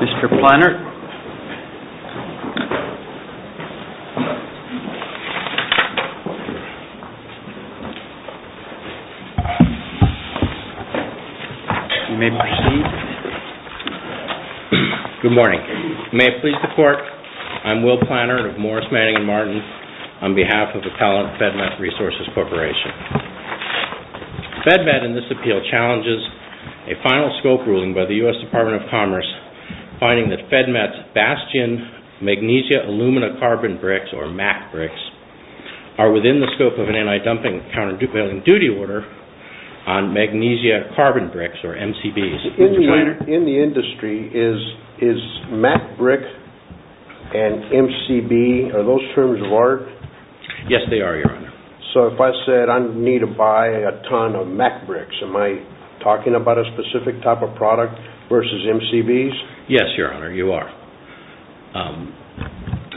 Mr. Planner, you may proceed. Good morning. May it please the Court, I am Will Planner of Morris Manning & Martin on behalf of the talented FedMet Resources Corporation. FedMet in this appeal challenges a final scope ruling by the U.S. Department of Commerce finding that FedMet's Bastion Magnesia Alumina Carbon Bricks, or MAC bricks, are within the scope of an anti-dumping countervailing duty order on Magnesia Carbon Bricks, or MCBs. In the industry, is MAC brick and MCB, are those terms of art? Yes, they are, Your Honor. So if I said I need to buy a ton of MAC bricks, am I talking about a specific type of product versus MCBs? Yes, Your Honor, you are.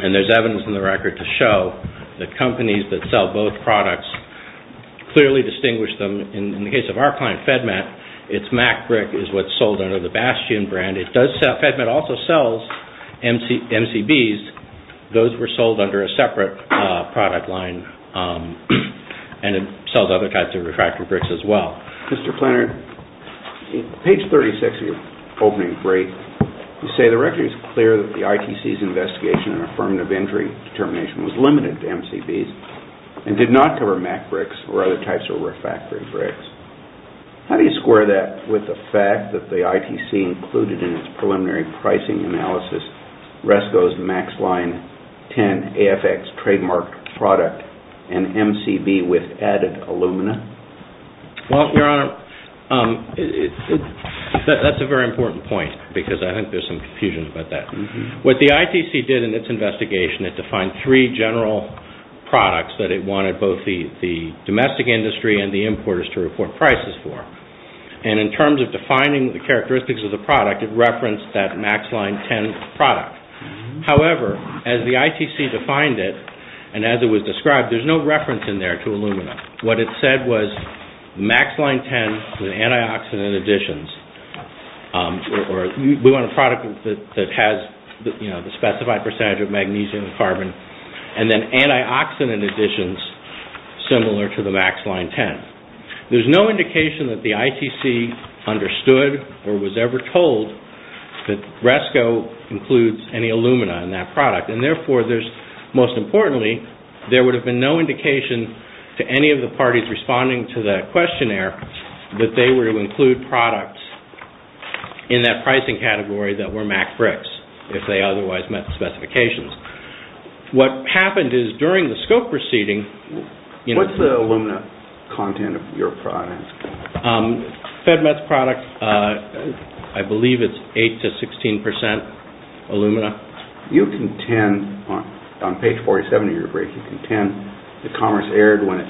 And there's evidence in the record to show that companies that sell both products clearly distinguish them. In the case of our client, FedMet, its MAC brick is what's sold under the Bastion brand. FedMet also sells MCBs. Those were sold under a separate product line, and it sells other types of refractory bricks as well. Mr. Planner, page 36 of your opening brief, you say the record is clear that the ITC's investigation and affirmative injury determination was limited to MCBs, and did not cover MAC bricks or other types of refractory bricks. How do you square that with the fact that the ITC included in its preliminary pricing analysis RESCO's MAX Line 10 AFX trademarked product and MCB with added alumina? Well, Your Honor, that's a very important point, because I think there's some confusion about that. What the ITC did in its investigation, it defined three general products that it wanted both the domestic industry and the importers to report prices for. And in terms of defining the characteristics of the product, it referenced that MAX Line 10 product. However, as the ITC defined it, and as it was described, there's no reference in there to alumina. What it said was MAX Line 10 with antioxidant additions, or we want a product that has the specified percentage of magnesium and carbon, and then antioxidant additions similar to the MAX Line 10. There's no indication that the ITC understood or was ever told that RESCO includes any alumina in that product. And therefore, most importantly, there would have been no indication to any of the parties responding to that questionnaire that they were to include products in that pricing category that were MAC bricks, if they otherwise met the specifications. What happened is during the SCOPE proceeding... What's the alumina content of your product? FedMet's product, I believe it's 8 to 16 percent alumina. You contend, on page 47 of your brief, you contend that commerce erred when it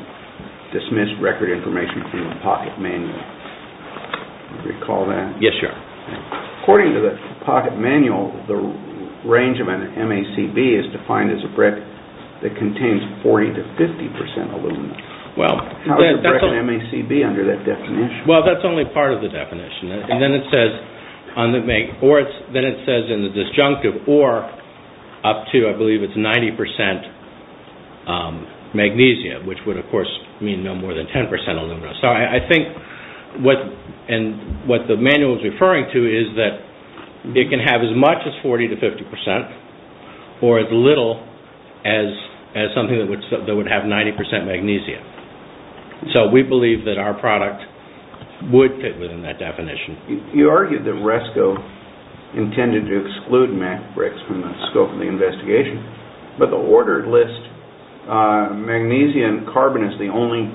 dismissed record information from the pocket manual. Do you recall that? Yes, Your Honor. According to the pocket manual, the range of an MACB is defined as a brick that contains 40 to 50 percent alumina. How is a brick an MACB under that definition? Well, that's only part of the definition. Then it says in the disjunctive, or up to, I believe it's 90 percent magnesium, which would, of course, mean no more than 10 percent alumina. So I think what the manual is referring to is that it can have as much as 40 to 50 percent or as little as something that would have 90 percent magnesium. So we believe that our product would fit within that definition. You argued that RESCO intended to exclude MAC bricks from the scope of the investigation, but the ordered list. Magnesium and carbon is the only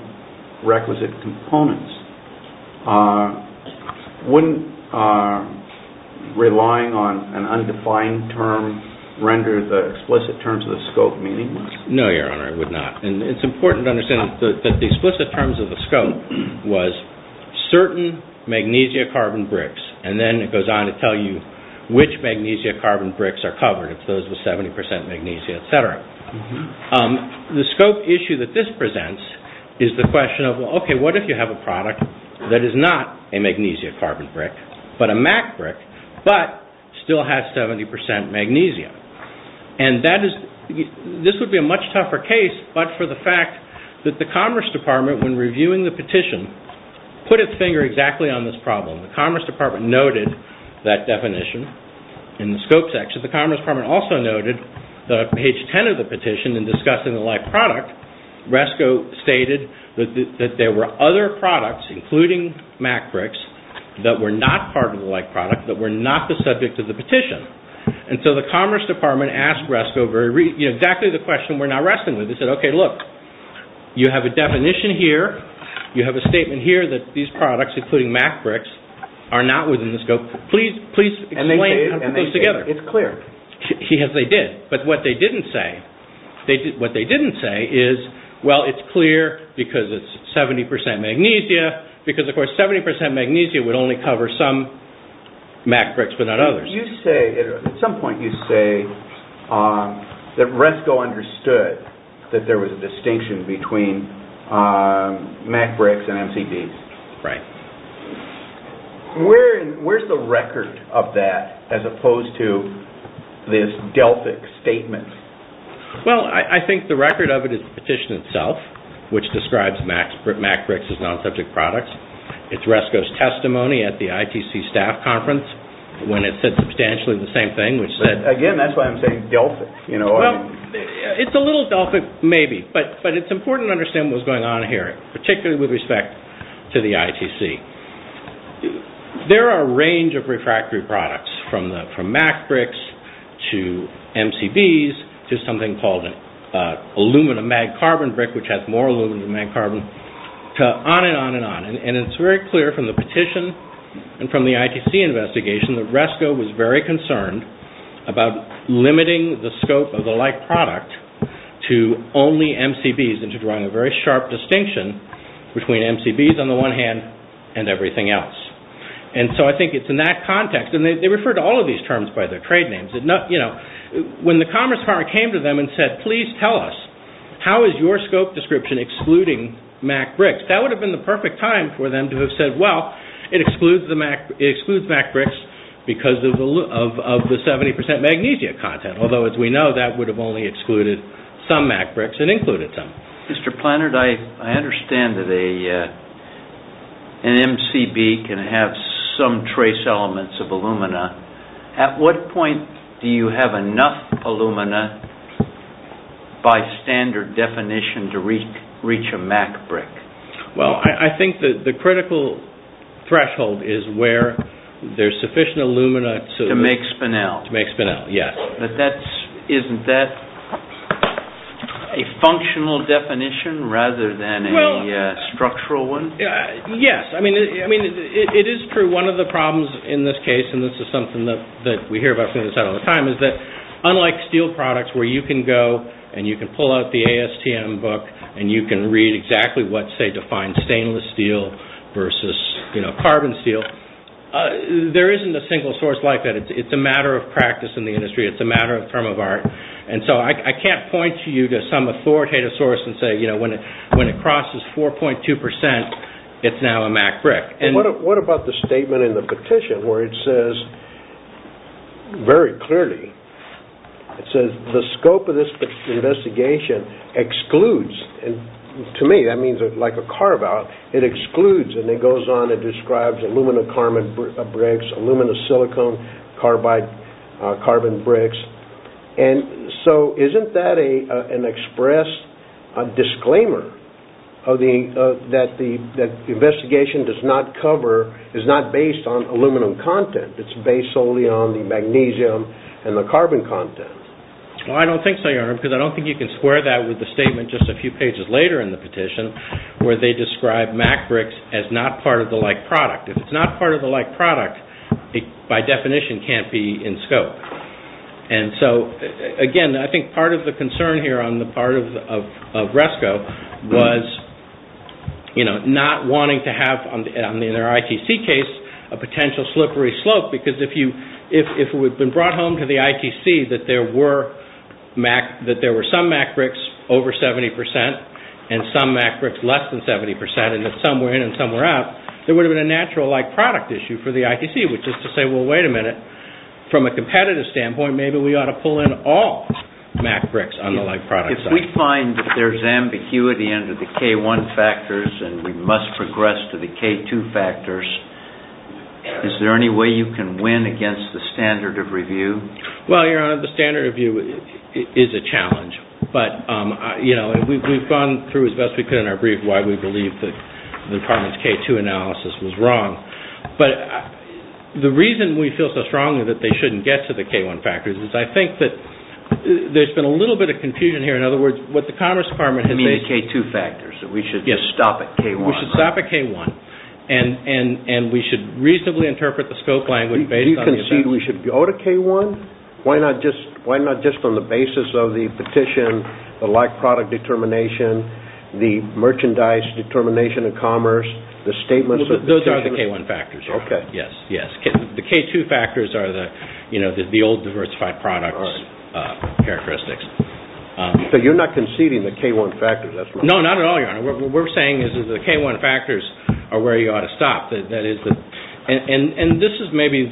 requisite components. Wouldn't relying on an undefined term render the explicit terms of the scope meaningless? No, Your Honor, it would not. It's important to understand that the explicit terms of the scope was certain magnesium-carbon bricks, and then it goes on to tell you which magnesium-carbon bricks are covered, if those were 70 percent magnesium, et cetera. The scope issue that this presents is the question of, okay, what if you have a product that is not a magnesium-carbon brick, but a MAC brick, but still has 70 percent magnesium? This would be a much tougher case, but for the fact that the Commerce Department, when reviewing the petition, put its finger exactly on this problem. The Commerce Department noted that definition in the scope section. The Commerce Department also noted that on page 10 of the petition, in discussing the like product, RESCO stated that there were other products, including MAC bricks, that were not part of the like product, that were not the subject of the petition. And so the Commerce Department asked RESCO exactly the question we're now wrestling with. They said, okay, look, you have a definition here. You have a statement here that these products, including MAC bricks, are not within the scope. Please explain how to put those together. It's clear. Yes, they did. But what they didn't say is, well, it's clear because it's 70 percent magnesium, because, of course, 70 percent magnesium would only cover some MAC bricks but not others. At some point you say that RESCO understood that there was a distinction between MAC bricks and MCDs. Right. Where's the record of that as opposed to this DELFIC statement? Well, I think the record of it is the petition itself, which describes MAC bricks as non-subject products. It's RESCO's testimony at the ITC staff conference when it said substantially the same thing, which said— Again, that's why I'm saying DELFIC. Well, it's a little DELFIC maybe, but it's important to understand what's going on here, particularly with respect to the ITC. There are a range of refractory products from MAC bricks to MCDs to something called an aluminum mag carbon brick, which has more aluminum mag carbon, to on and on and on. And it's very clear from the petition and from the ITC investigation that RESCO was very concerned about limiting the scope of the like product to only MCDs and to drawing a very sharp distinction between MCDs on the one hand and everything else. And so I think it's in that context. And they refer to all of these terms by their trade names. When the Commerce Department came to them and said, please tell us, how is your scope description excluding MAC bricks, that would have been the perfect time for them to have said, well, it excludes MAC bricks because of the 70% magnesia content. Although, as we know, that would have only excluded some MAC bricks and included some. Mr. Plannard, I understand that an MCB can have some trace elements of alumina. At what point do you have enough alumina by standard definition to reach a MAC brick? Well, I think that the critical threshold is where there's sufficient alumina to make spinel. To make spinel, yes. Isn't that a functional definition rather than a structural one? Yes. I mean, it is true. One of the problems in this case, and this is something that we hear about all the time, is that unlike steel products where you can go and you can pull out the ASTM book and you can read exactly what, say, defines stainless steel versus carbon steel, there isn't a single source like that. It's a matter of practice in the industry. It's a matter of term of art. And so I can't point to you to some authoritative source and say, you know, when it crosses 4.2%, it's now a MAC brick. What about the statement in the petition where it says very clearly, it says, the scope of this investigation excludes, and to me that means like a carve-out, it excludes, and it goes on and describes alumina carbon bricks, alumina silicon carbide carbon bricks. And so isn't that an express disclaimer that the investigation does not cover, is not based on aluminum content? It's based solely on the magnesium and the carbon content. Well, I don't think so, Your Honor, because I don't think you can square that with the statement just a few pages later in the petition where they describe MAC bricks as not part of the like product. If it's not part of the like product, it by definition can't be in scope. And so, again, I think part of the concern here on the part of RESCO was, you know, not wanting to have, in their ITC case, a potential slippery slope because if it had been brought home to the ITC, that there were some MAC bricks over 70 percent and some MAC bricks less than 70 percent, and that some were in and some were out, there would have been a natural like product issue for the ITC, which is to say, well, wait a minute, from a competitive standpoint, maybe we ought to pull in all MAC bricks on the like product side. If we find that there's ambiguity under the K1 factors and we must progress to the K2 factors, is there any way you can win against the standard of review? Well, Your Honor, the standard of review is a challenge. But, you know, we've gone through as best we could in our brief why we believe the Department's K2 analysis was wrong. But the reason we feel so strongly that they shouldn't get to the K1 factors is I think that there's been a little bit of confusion here. In other words, what the Commerce Department has made – You mean K2 factors. Yes. So we should just stop at K1. We should stop at K1. And we should reasonably interpret the scope language based on the – You mean we should go to K1? Why not just on the basis of the petition, the like product determination, the merchandise determination of commerce, the statements of – Those are the K1 factors. Okay. Yes, yes. The K2 factors are the, you know, the old diversified products characteristics. So you're not conceding the K1 factors? No, not at all, Your Honor. What we're saying is that the K1 factors are where you ought to stop. And this is maybe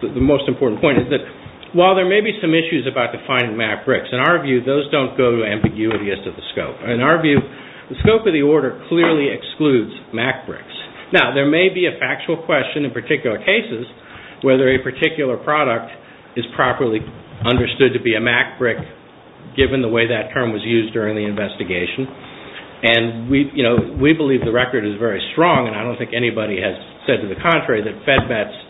the most important point is that while there may be some issues about defining MAC bricks, in our view those don't go to ambiguity as to the scope. In our view, the scope of the order clearly excludes MAC bricks. Now, there may be a factual question in particular cases whether a particular product is properly understood to be a MAC brick given the way that term was used during the investigation. And, you know, we believe the record is very strong, and I don't think anybody has said to the contrary that FedMAT's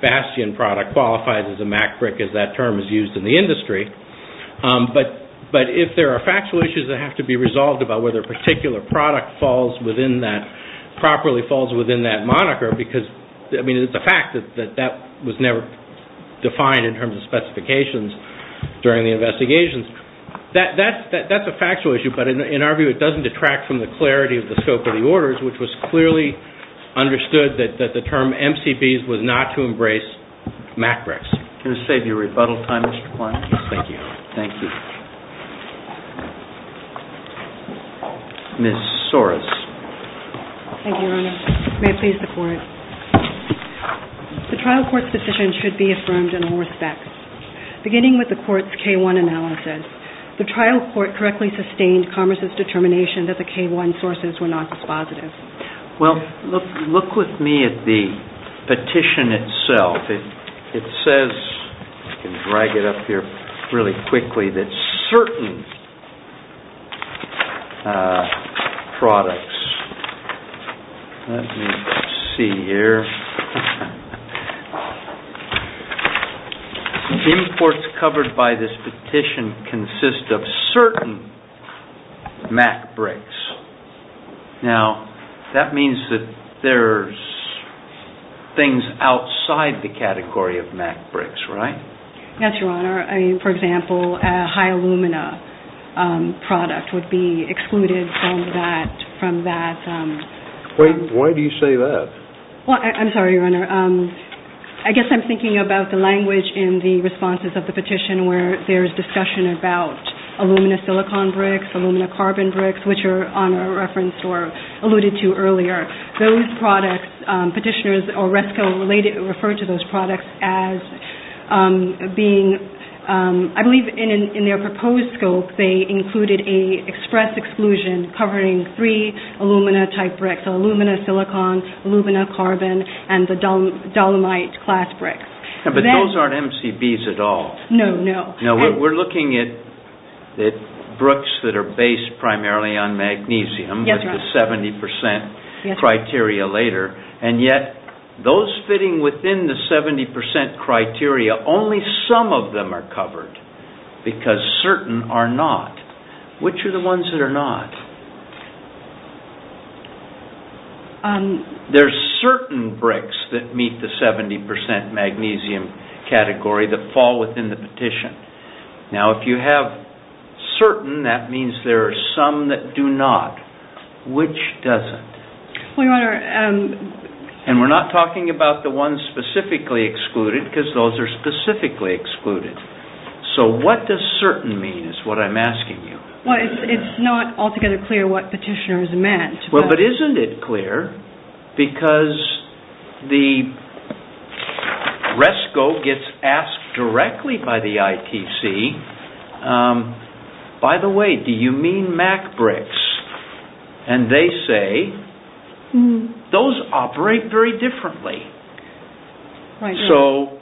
Bastion product qualifies as a MAC brick as that term is used in the industry. But if there are factual issues that have to be resolved about whether a particular product falls within that – properly falls within that moniker because, I mean, it's a fact that that was never defined in terms of specifications during the investigations, that's a factual issue. But in our view, it doesn't detract from the clarity of the scope of the orders, which was clearly understood that the term MCBs was not to embrace MAC bricks. Can I save you rebuttal time, Mr. Kline? Thank you. Thank you. Ms. Soros. Thank you, Your Honor. May it please the Court. The trial court's decision should be affirmed in all respects. Beginning with the court's K1 analysis, the trial court correctly sustained Commerce's determination that the K1 sources were not dispositive. Well, look with me at the petition itself. It says – I can drag it up here really quickly – that certain products – let me see here – imports covered by this petition consist of certain MAC bricks. Now, that means that there's things outside the category of MAC bricks, right? Yes, Your Honor. I mean, for example, a high alumina product would be excluded from that – Wait, why do you say that? Well, I'm sorry, Your Honor. I guess I'm thinking about the language in the responses of the petition where there's discussion about alumina-silicon bricks, alumina-carbon bricks, which Your Honor referenced or alluded to earlier. Those products, petitioners or RESCO refer to those products as being – I believe in their proposed scope, they included an express exclusion covering three alumina-type bricks – alumina-silicon, alumina-carbon, and the dolomite-class bricks. But those aren't MCBs at all. No, no. We're looking at bricks that are based primarily on magnesium with the 70% criteria later, and yet those fitting within the 70% criteria, only some of them are covered because certain are not. Which are the ones that are not? There are certain bricks that meet the 70% magnesium category that fall within the petition. Now, if you have certain, that means there are some that do not. Which doesn't? And we're not talking about the ones specifically excluded because those are specifically excluded. So what does certain mean is what I'm asking you. Well, it's not altogether clear what petitioners meant. Well, but isn't it clear? Because the RESCO gets asked directly by the ITC, by the way, do you mean MAC bricks? And they say, those operate very differently. So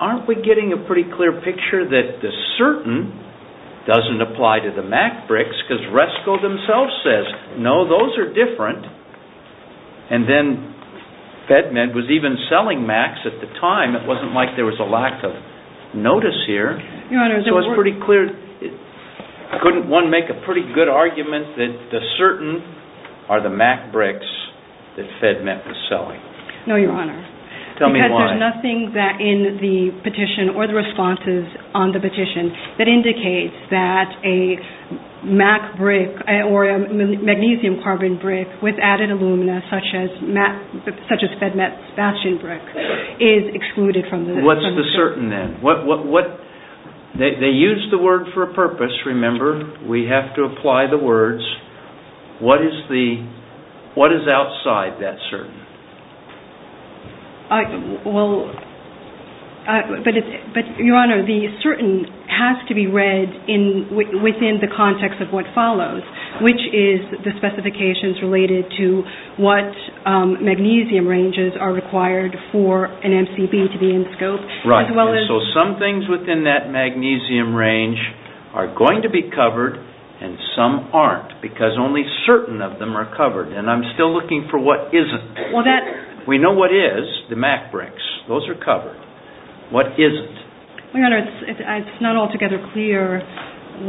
aren't we getting a pretty clear picture that the certain doesn't apply to the MAC bricks because RESCO themselves says, no, those are different. And then FedMed was even selling MACs at the time. It wasn't like there was a lack of notice here. So it's pretty clear. Couldn't one make a pretty good argument that the certain are the MAC bricks that FedMed was selling? No, Your Honor. Tell me why. Because there's nothing in the petition or the responses on the petition that indicates that a MAC brick or a magnesium carbon brick with added alumina, such as FedMed's bastion brick, is excluded from the petition. What's the certain then? They use the word for a purpose, remember. We have to apply the words. What is outside that certain? Well, but Your Honor, the certain has to be read within the context of what follows, which is the specifications related to what magnesium ranges are required for an MCB to be in scope. Right. So some things within that magnesium range are going to be covered and some aren't because only certain of them are covered. And I'm still looking for what isn't. We know what is, the MAC bricks. Those are covered. What isn't? Your Honor, it's not altogether clear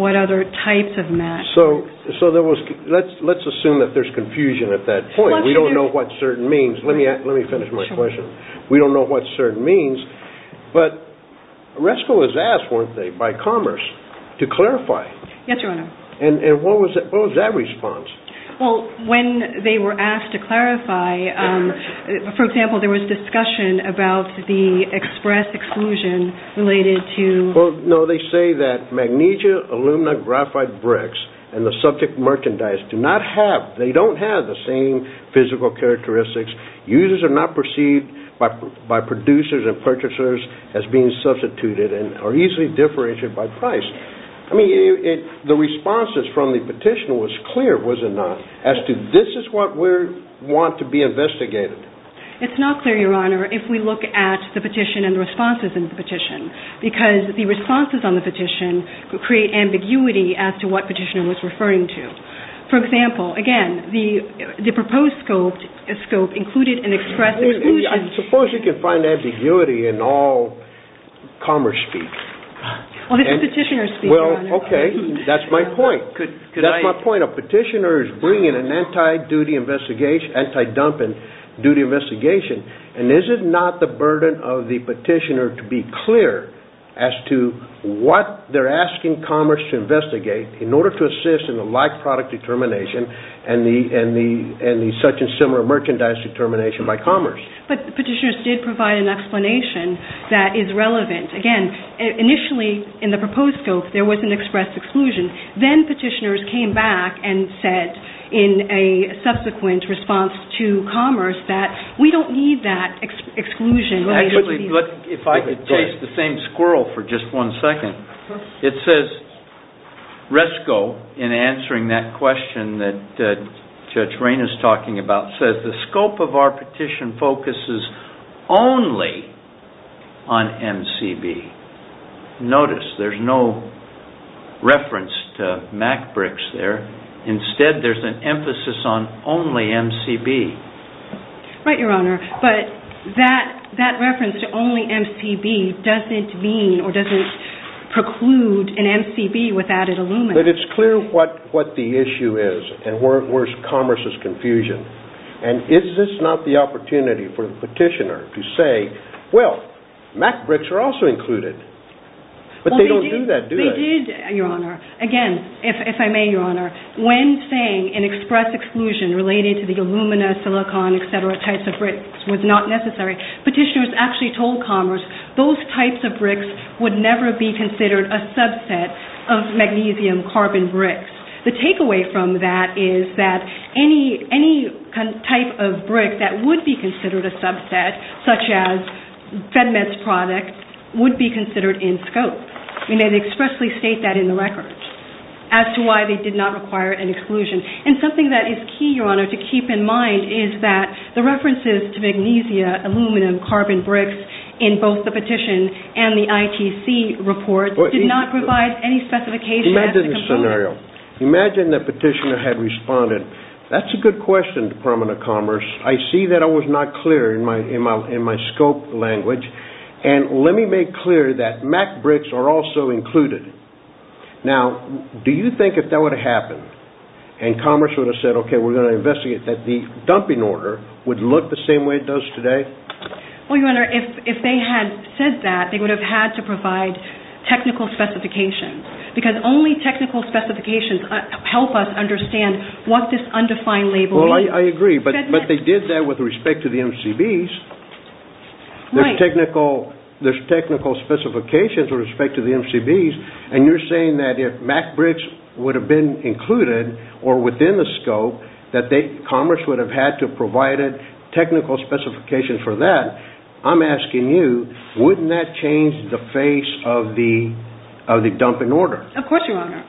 what other types of MACs. So let's assume that there's confusion at that point. We don't know what certain means. Let me finish my question. We don't know what certain means, but RESCO was asked, weren't they, by Commerce to clarify. Yes, Your Honor. And what was that response? Well, when they were asked to clarify, for example, there was discussion about the express exclusion related to... Well, no, they say that magnesium alumina graphite bricks and the subject merchandise do not have, they don't have the same physical characteristics. Users are not perceived by producers and purchasers as being substituted and are easily differentiated by price. I mean, the responses from the petition was clear, was it not, as to this is what we want to be investigated. It's not clear, Your Honor, if we look at the petition and the responses in the petition because the responses on the petition create ambiguity as to what petitioner was referring to. For example, again, the proposed scope included an express exclusion... I suppose you can find ambiguity in all Commerce speech. Well, this is petitioner speech, Your Honor. Well, okay, that's my point. That's my point. A petitioner is bringing an anti-dumping duty investigation and is it not the burden of the petitioner to be clear as to what they're asking Commerce to investigate in order to assist in the like product determination and the subject similar merchandise determination by Commerce. But petitioners did provide an explanation that is relevant. Again, initially in the proposed scope there was an express exclusion. Then petitioners came back and said in a subsequent response to Commerce that we don't need that exclusion. If I could taste the same squirrel for just one second. It says, Resco, in answering that question that Judge Rayne is talking about, says the scope of our petition focuses only on MCB. Notice there's no reference to Mac bricks there. Instead, there's an emphasis on only MCB. Right, Your Honor. But that reference to only MCB doesn't mean or doesn't preclude an MCB without an Illumina. But it's clear what the issue is and where Commerce's confusion. And is this not the opportunity for the petitioner to say, well, Mac bricks are also included. But they don't do that, do they? They did, Your Honor. Again, if I may, Your Honor, when saying an express exclusion related to the Illumina, silicon, etc., types of bricks was not necessary, petitioners actually told Commerce those types of bricks would never be considered a subset of magnesium carbon bricks. The takeaway from that is that any type of brick that would be considered a subset, such as FedMed's product, would be considered in scope. And they expressly state that in the record as to why they did not require an exclusion. And something that is key, Your Honor, to keep in mind is that the references to magnesium aluminum carbon bricks in both the petition and the ITC report did not provide any specification. Imagine the scenario. Imagine the petitioner had responded, that's a good question, Department of Commerce. I see that it was not clear in my scope language. And let me make clear that Mac bricks are also included. Now, do you think if that would have happened and Commerce would have said, okay, we're going to investigate, that the dumping order would look the same way it does today? Well, Your Honor, if they had said that, they would have had to provide technical specifications. Because only technical specifications help us understand what this undefined label means. Well, I agree, but they did that with respect to the MCBs. Right. There's technical specifications with respect to the MCBs, and you're saying that if Mac bricks would have been included or within the scope, that Commerce would have had to have provided technical specifications for that. I'm asking you, wouldn't that change the face of the dumping order? Of course, Your Honor.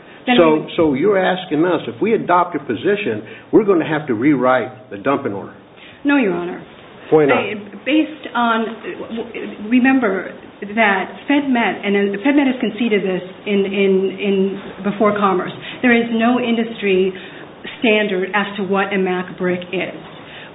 So you're asking us, if we adopt a position, we're going to have to rewrite the dumping order. No, Your Honor. Point out. Based on, remember that FedMet, and FedMet has conceded this before Commerce, there is no industry standard as to what a Mac brick is.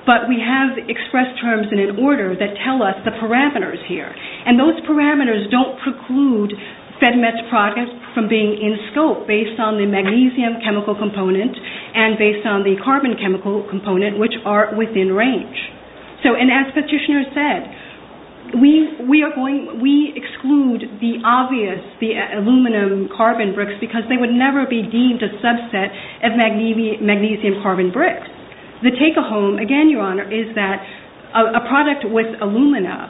But we have expressed terms in an order that tell us the parameters here, and those parameters don't preclude FedMet's product from being in scope based on the magnesium chemical component and based on the carbon chemical component, which are within range. And as Petitioner said, we exclude the obvious, the aluminum carbon bricks, because they would never be deemed a subset of magnesium carbon bricks. The take-home, again, Your Honor, is that a product with alumina,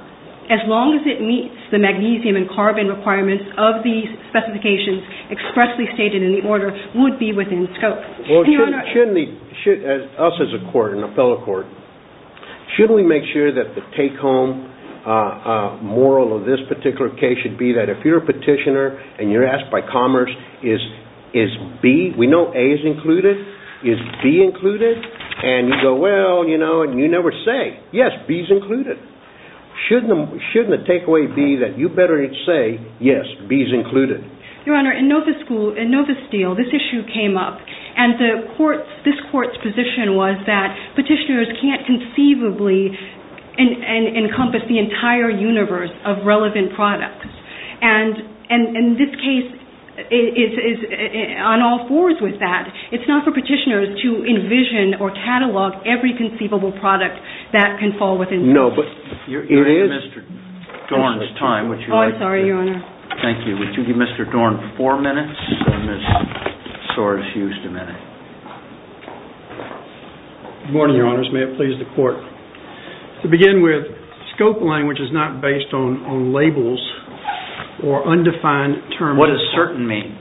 as long as it meets the magnesium and carbon requirements of the specifications expressly stated in the order, would be within scope. Well, shouldn't we, us as a court and a fellow court, shouldn't we make sure that the take-home moral of this particular case should be that if you're a Petitioner and you're asked by Commerce, is B, we know A is included, is B included? And you go, well, you know, and you never say, yes, B is included. Shouldn't the takeaway be that you better say, yes, B is included? Your Honor, in Nova Steel, this issue came up. And this court's position was that Petitioners can't conceivably encompass the entire universe of relevant products. And this case is on all fours with that. It's not for Petitioners to envision or catalog every conceivable product that can fall within scope. No, but it is Mr. Dorn's time. Oh, I'm sorry, Your Honor. Thank you. Would you give Mr. Dorn four minutes and Ms. Soares-Huston a minute? Good morning, Your Honors. May it please the Court. To begin with, scope language is not based on labels or undefined terms. What does certain mean?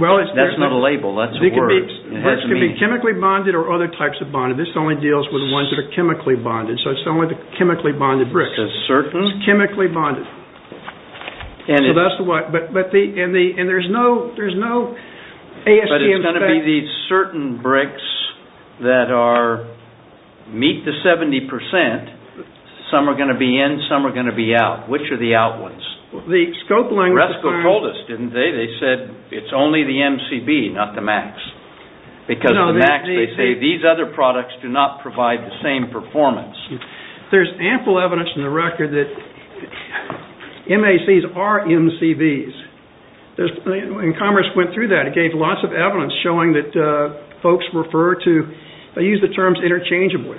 That's not a label. That's a word. It could be chemically bonded or other types of bonded. This only deals with the ones that are chemically bonded. So it's only the chemically bonded bricks. The certain? It's chemically bonded. So that's the one. And there's no ASTM spec? But it's going to be these certain bricks that meet the 70%. Some are going to be in. Some are going to be out. Which are the out ones? The scope language. Resco told us, didn't they? They said it's only the MCB, not the MAX. Because the MAX, they say, these other products do not provide the same performance. There's ample evidence in the record that MACs are MCBs. And Commerce went through that. It gave lots of evidence showing that folks refer to, they use the terms interchangeably.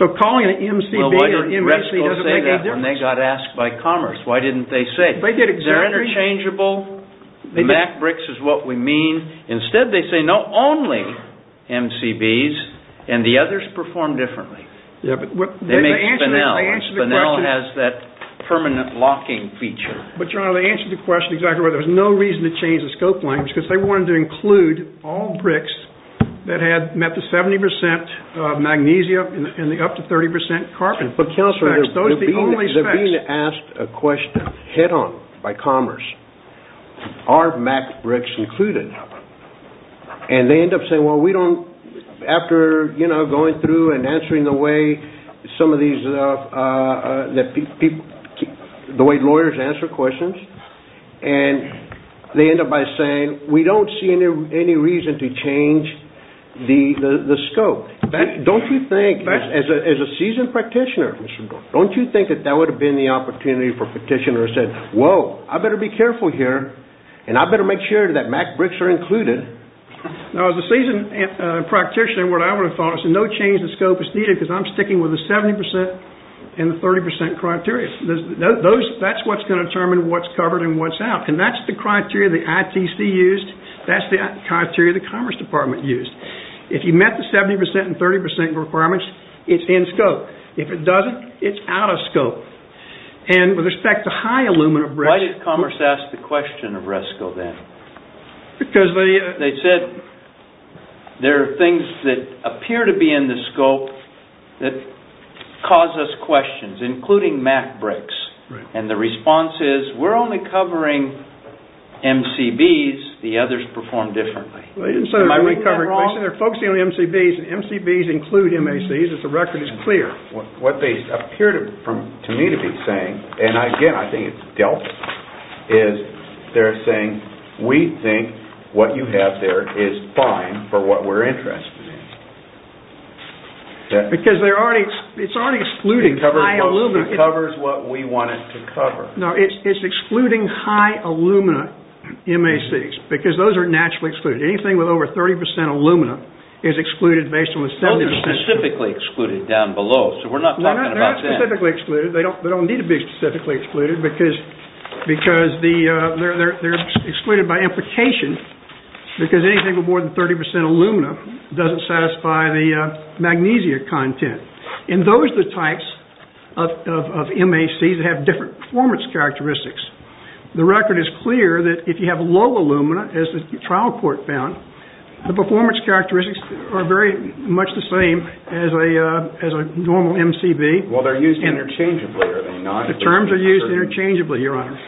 So calling it MCB or MACC doesn't make any difference. Well, why did Resco say that when they got asked by Commerce? Why didn't they say? They did exactly. They're interchangeable. The MAC bricks is what we mean. Instead, they say, no, only MCBs. And the others perform differently. They make spinel. Spinel has that permanent locking feature. But, John, they answered the question exactly right. There was no reason to change the scope language. Because they wanted to include all bricks that had met the 70% magnesium and up to 30% carbon. But, Counselor, they're being asked a question head on by Commerce. Are MAC bricks included? And they end up saying, well, we don't, after going through and answering the way lawyers answer questions, and they end up by saying, we don't see any reason to change the scope. Don't you think, as a seasoned practitioner, don't you think that that would have been the opportunity for a petitioner to say, whoa, I better be careful here, and I better make sure that MAC bricks are included. Now, as a seasoned practitioner, what I would have thought is no change in scope is needed, because I'm sticking with the 70% and the 30% criteria. That's what's going to determine what's covered and what's out. And that's the criteria the ITC used. That's the criteria the Commerce Department used. If you met the 70% and 30% requirements, it's in scope. If it doesn't, it's out of scope. Why did Commerce ask the question of RESCO, then? Because they said there are things that appear to be in the scope that cause us questions, including MAC bricks. And the response is, we're only covering MCBs. The others perform differently. Am I reading that wrong? They're focusing on MCBs, and MCBs include MACs. What they appear to me to be saying, and again, I think it's dealt with, is they're saying, we think what you have there is fine for what we're interested in. Because it's already excluding high alumina. It covers what we want it to cover. No, it's excluding high alumina MACs, because those are naturally excluded. Anything with over 30% alumina is excluded based on the 70%. They're specifically excluded down below, so we're not talking about that. They're not specifically excluded. They don't need to be specifically excluded, because they're excluded by implication, because anything with more than 30% alumina doesn't satisfy the magnesia content. And those are the types of MACs that have different performance characteristics. The record is clear that if you have low alumina, as the trial court found, the performance characteristics are very much the same as a normal MCB. Well, they're used interchangeably, are they not? The terms are used interchangeably, Your Honor.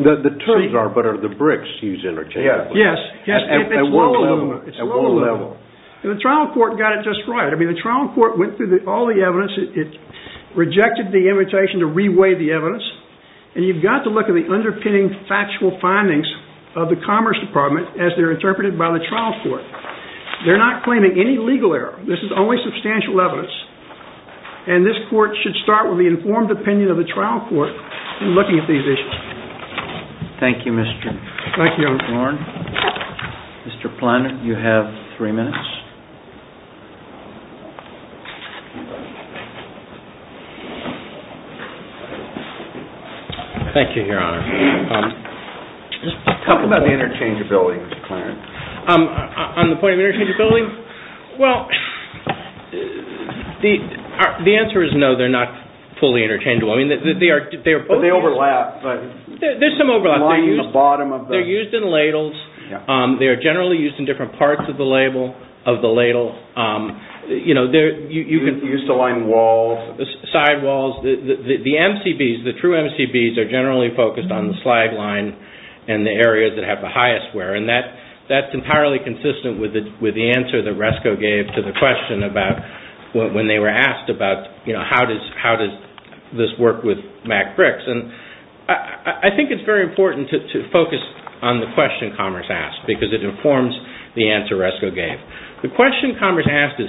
The terms are, but are the bricks used interchangeably? Yes. At what level? At what level? And the trial court got it just right. I mean, the trial court went through all the evidence. It rejected the invitation to re-weigh the evidence. And you've got to look at the underpinning factual findings of the Commerce Department as they're interpreted by the trial court. They're not claiming any legal error. This is only substantial evidence. And this court should start with the informed opinion of the trial court in looking at these issues. Thank you, Mr. Warren. Thank you, Your Honor. Mr. Plun, you have three minutes. Thank you, Your Honor. Talk about the interchangeability, Mr. Clarence. On the point of interchangeability? Well, the answer is no, they're not fully interchangeable. But they overlap. There's some overlap. They're used in ladles. They are generally used in different parts of the ladle. Used to line walls. Side walls. The MCBs, the true MCBs, are generally focused on the slide line and the areas that have the highest wear. And that's entirely consistent with the answer that Resco gave to the question about when they were asked about, you know, how does this work with MAC bricks. And I think it's very important to focus on the question Commerce asked because it informs the answer Resco gave. The question Commerce asked is,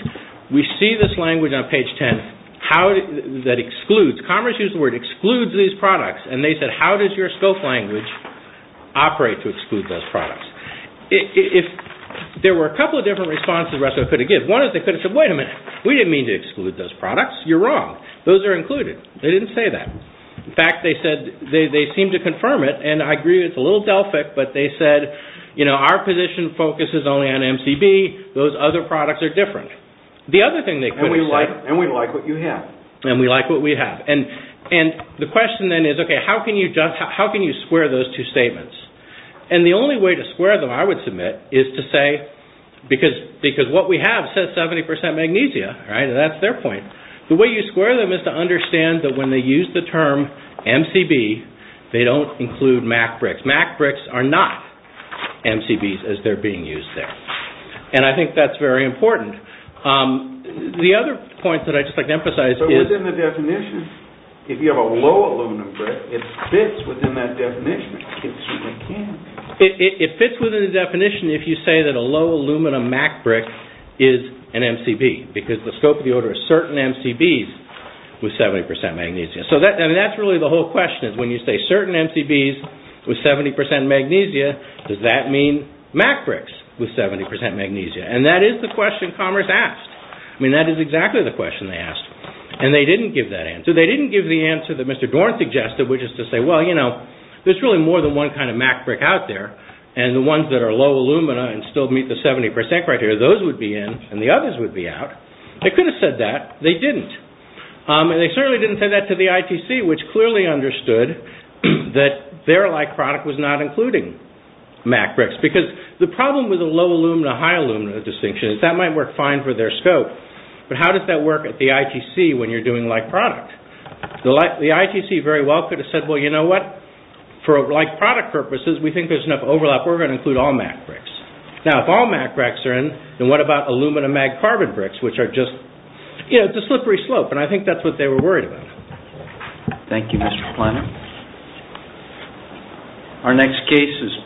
we see this language on page 10 that excludes. Commerce used the word excludes these products. And they said, how does your scope language operate to exclude those products? There were a couple of different responses Resco could have given. One is they could have said, wait a minute, we didn't mean to exclude those products. You're wrong. Those are included. They didn't say that. In fact, they said they seemed to confirm it. And I agree it's a little Delphic. But they said, you know, our position focuses only on MCB. Those other products are different. The other thing they could have said. And we like what you have. And we like what we have. And the question then is, okay, how can you square those two statements? And the only way to square them, I would submit, is to say, because what we have says 70% magnesia, right? That's their point. The way you square them is to understand that when they use the term MCB, they don't include MAC bricks. MAC bricks are not MCBs as they're being used there. And I think that's very important. The other point that I'd just like to emphasize is. So within the definition, if you have a low aluminum brick, it fits within that definition. It certainly can. It fits within the definition if you say that a low aluminum MAC brick is an MCB. Because the scope of the order is certain MCBs with 70% magnesia. So that's really the whole question. When you say certain MCBs with 70% magnesia, does that mean MAC bricks with 70% magnesia? And that is the question Commerce asked. I mean, that is exactly the question they asked. And they didn't give that answer. They didn't give the answer that Mr. Dorn suggested, which is to say, well, you know, there's really more than one kind of MAC brick out there. And the ones that are low alumina and still meet the 70% criteria, those would be in and the others would be out. They could have said that. They didn't. And they certainly didn't say that to the ITC, which clearly understood that their like product was not including MAC bricks. Because the problem with a low alumina-high alumina distinction is that might work fine for their scope. But how does that work at the ITC when you're doing like product? The ITC very well could have said, well, you know what? For like product purposes, we think there's enough overlap. We're going to include all MAC bricks. Now, if all MAC bricks are in, then what about alumina-MAG carbon bricks, which are just, you know, it's a slippery slope. And I think that's what they were worried about. Thank you, Mr. Planner.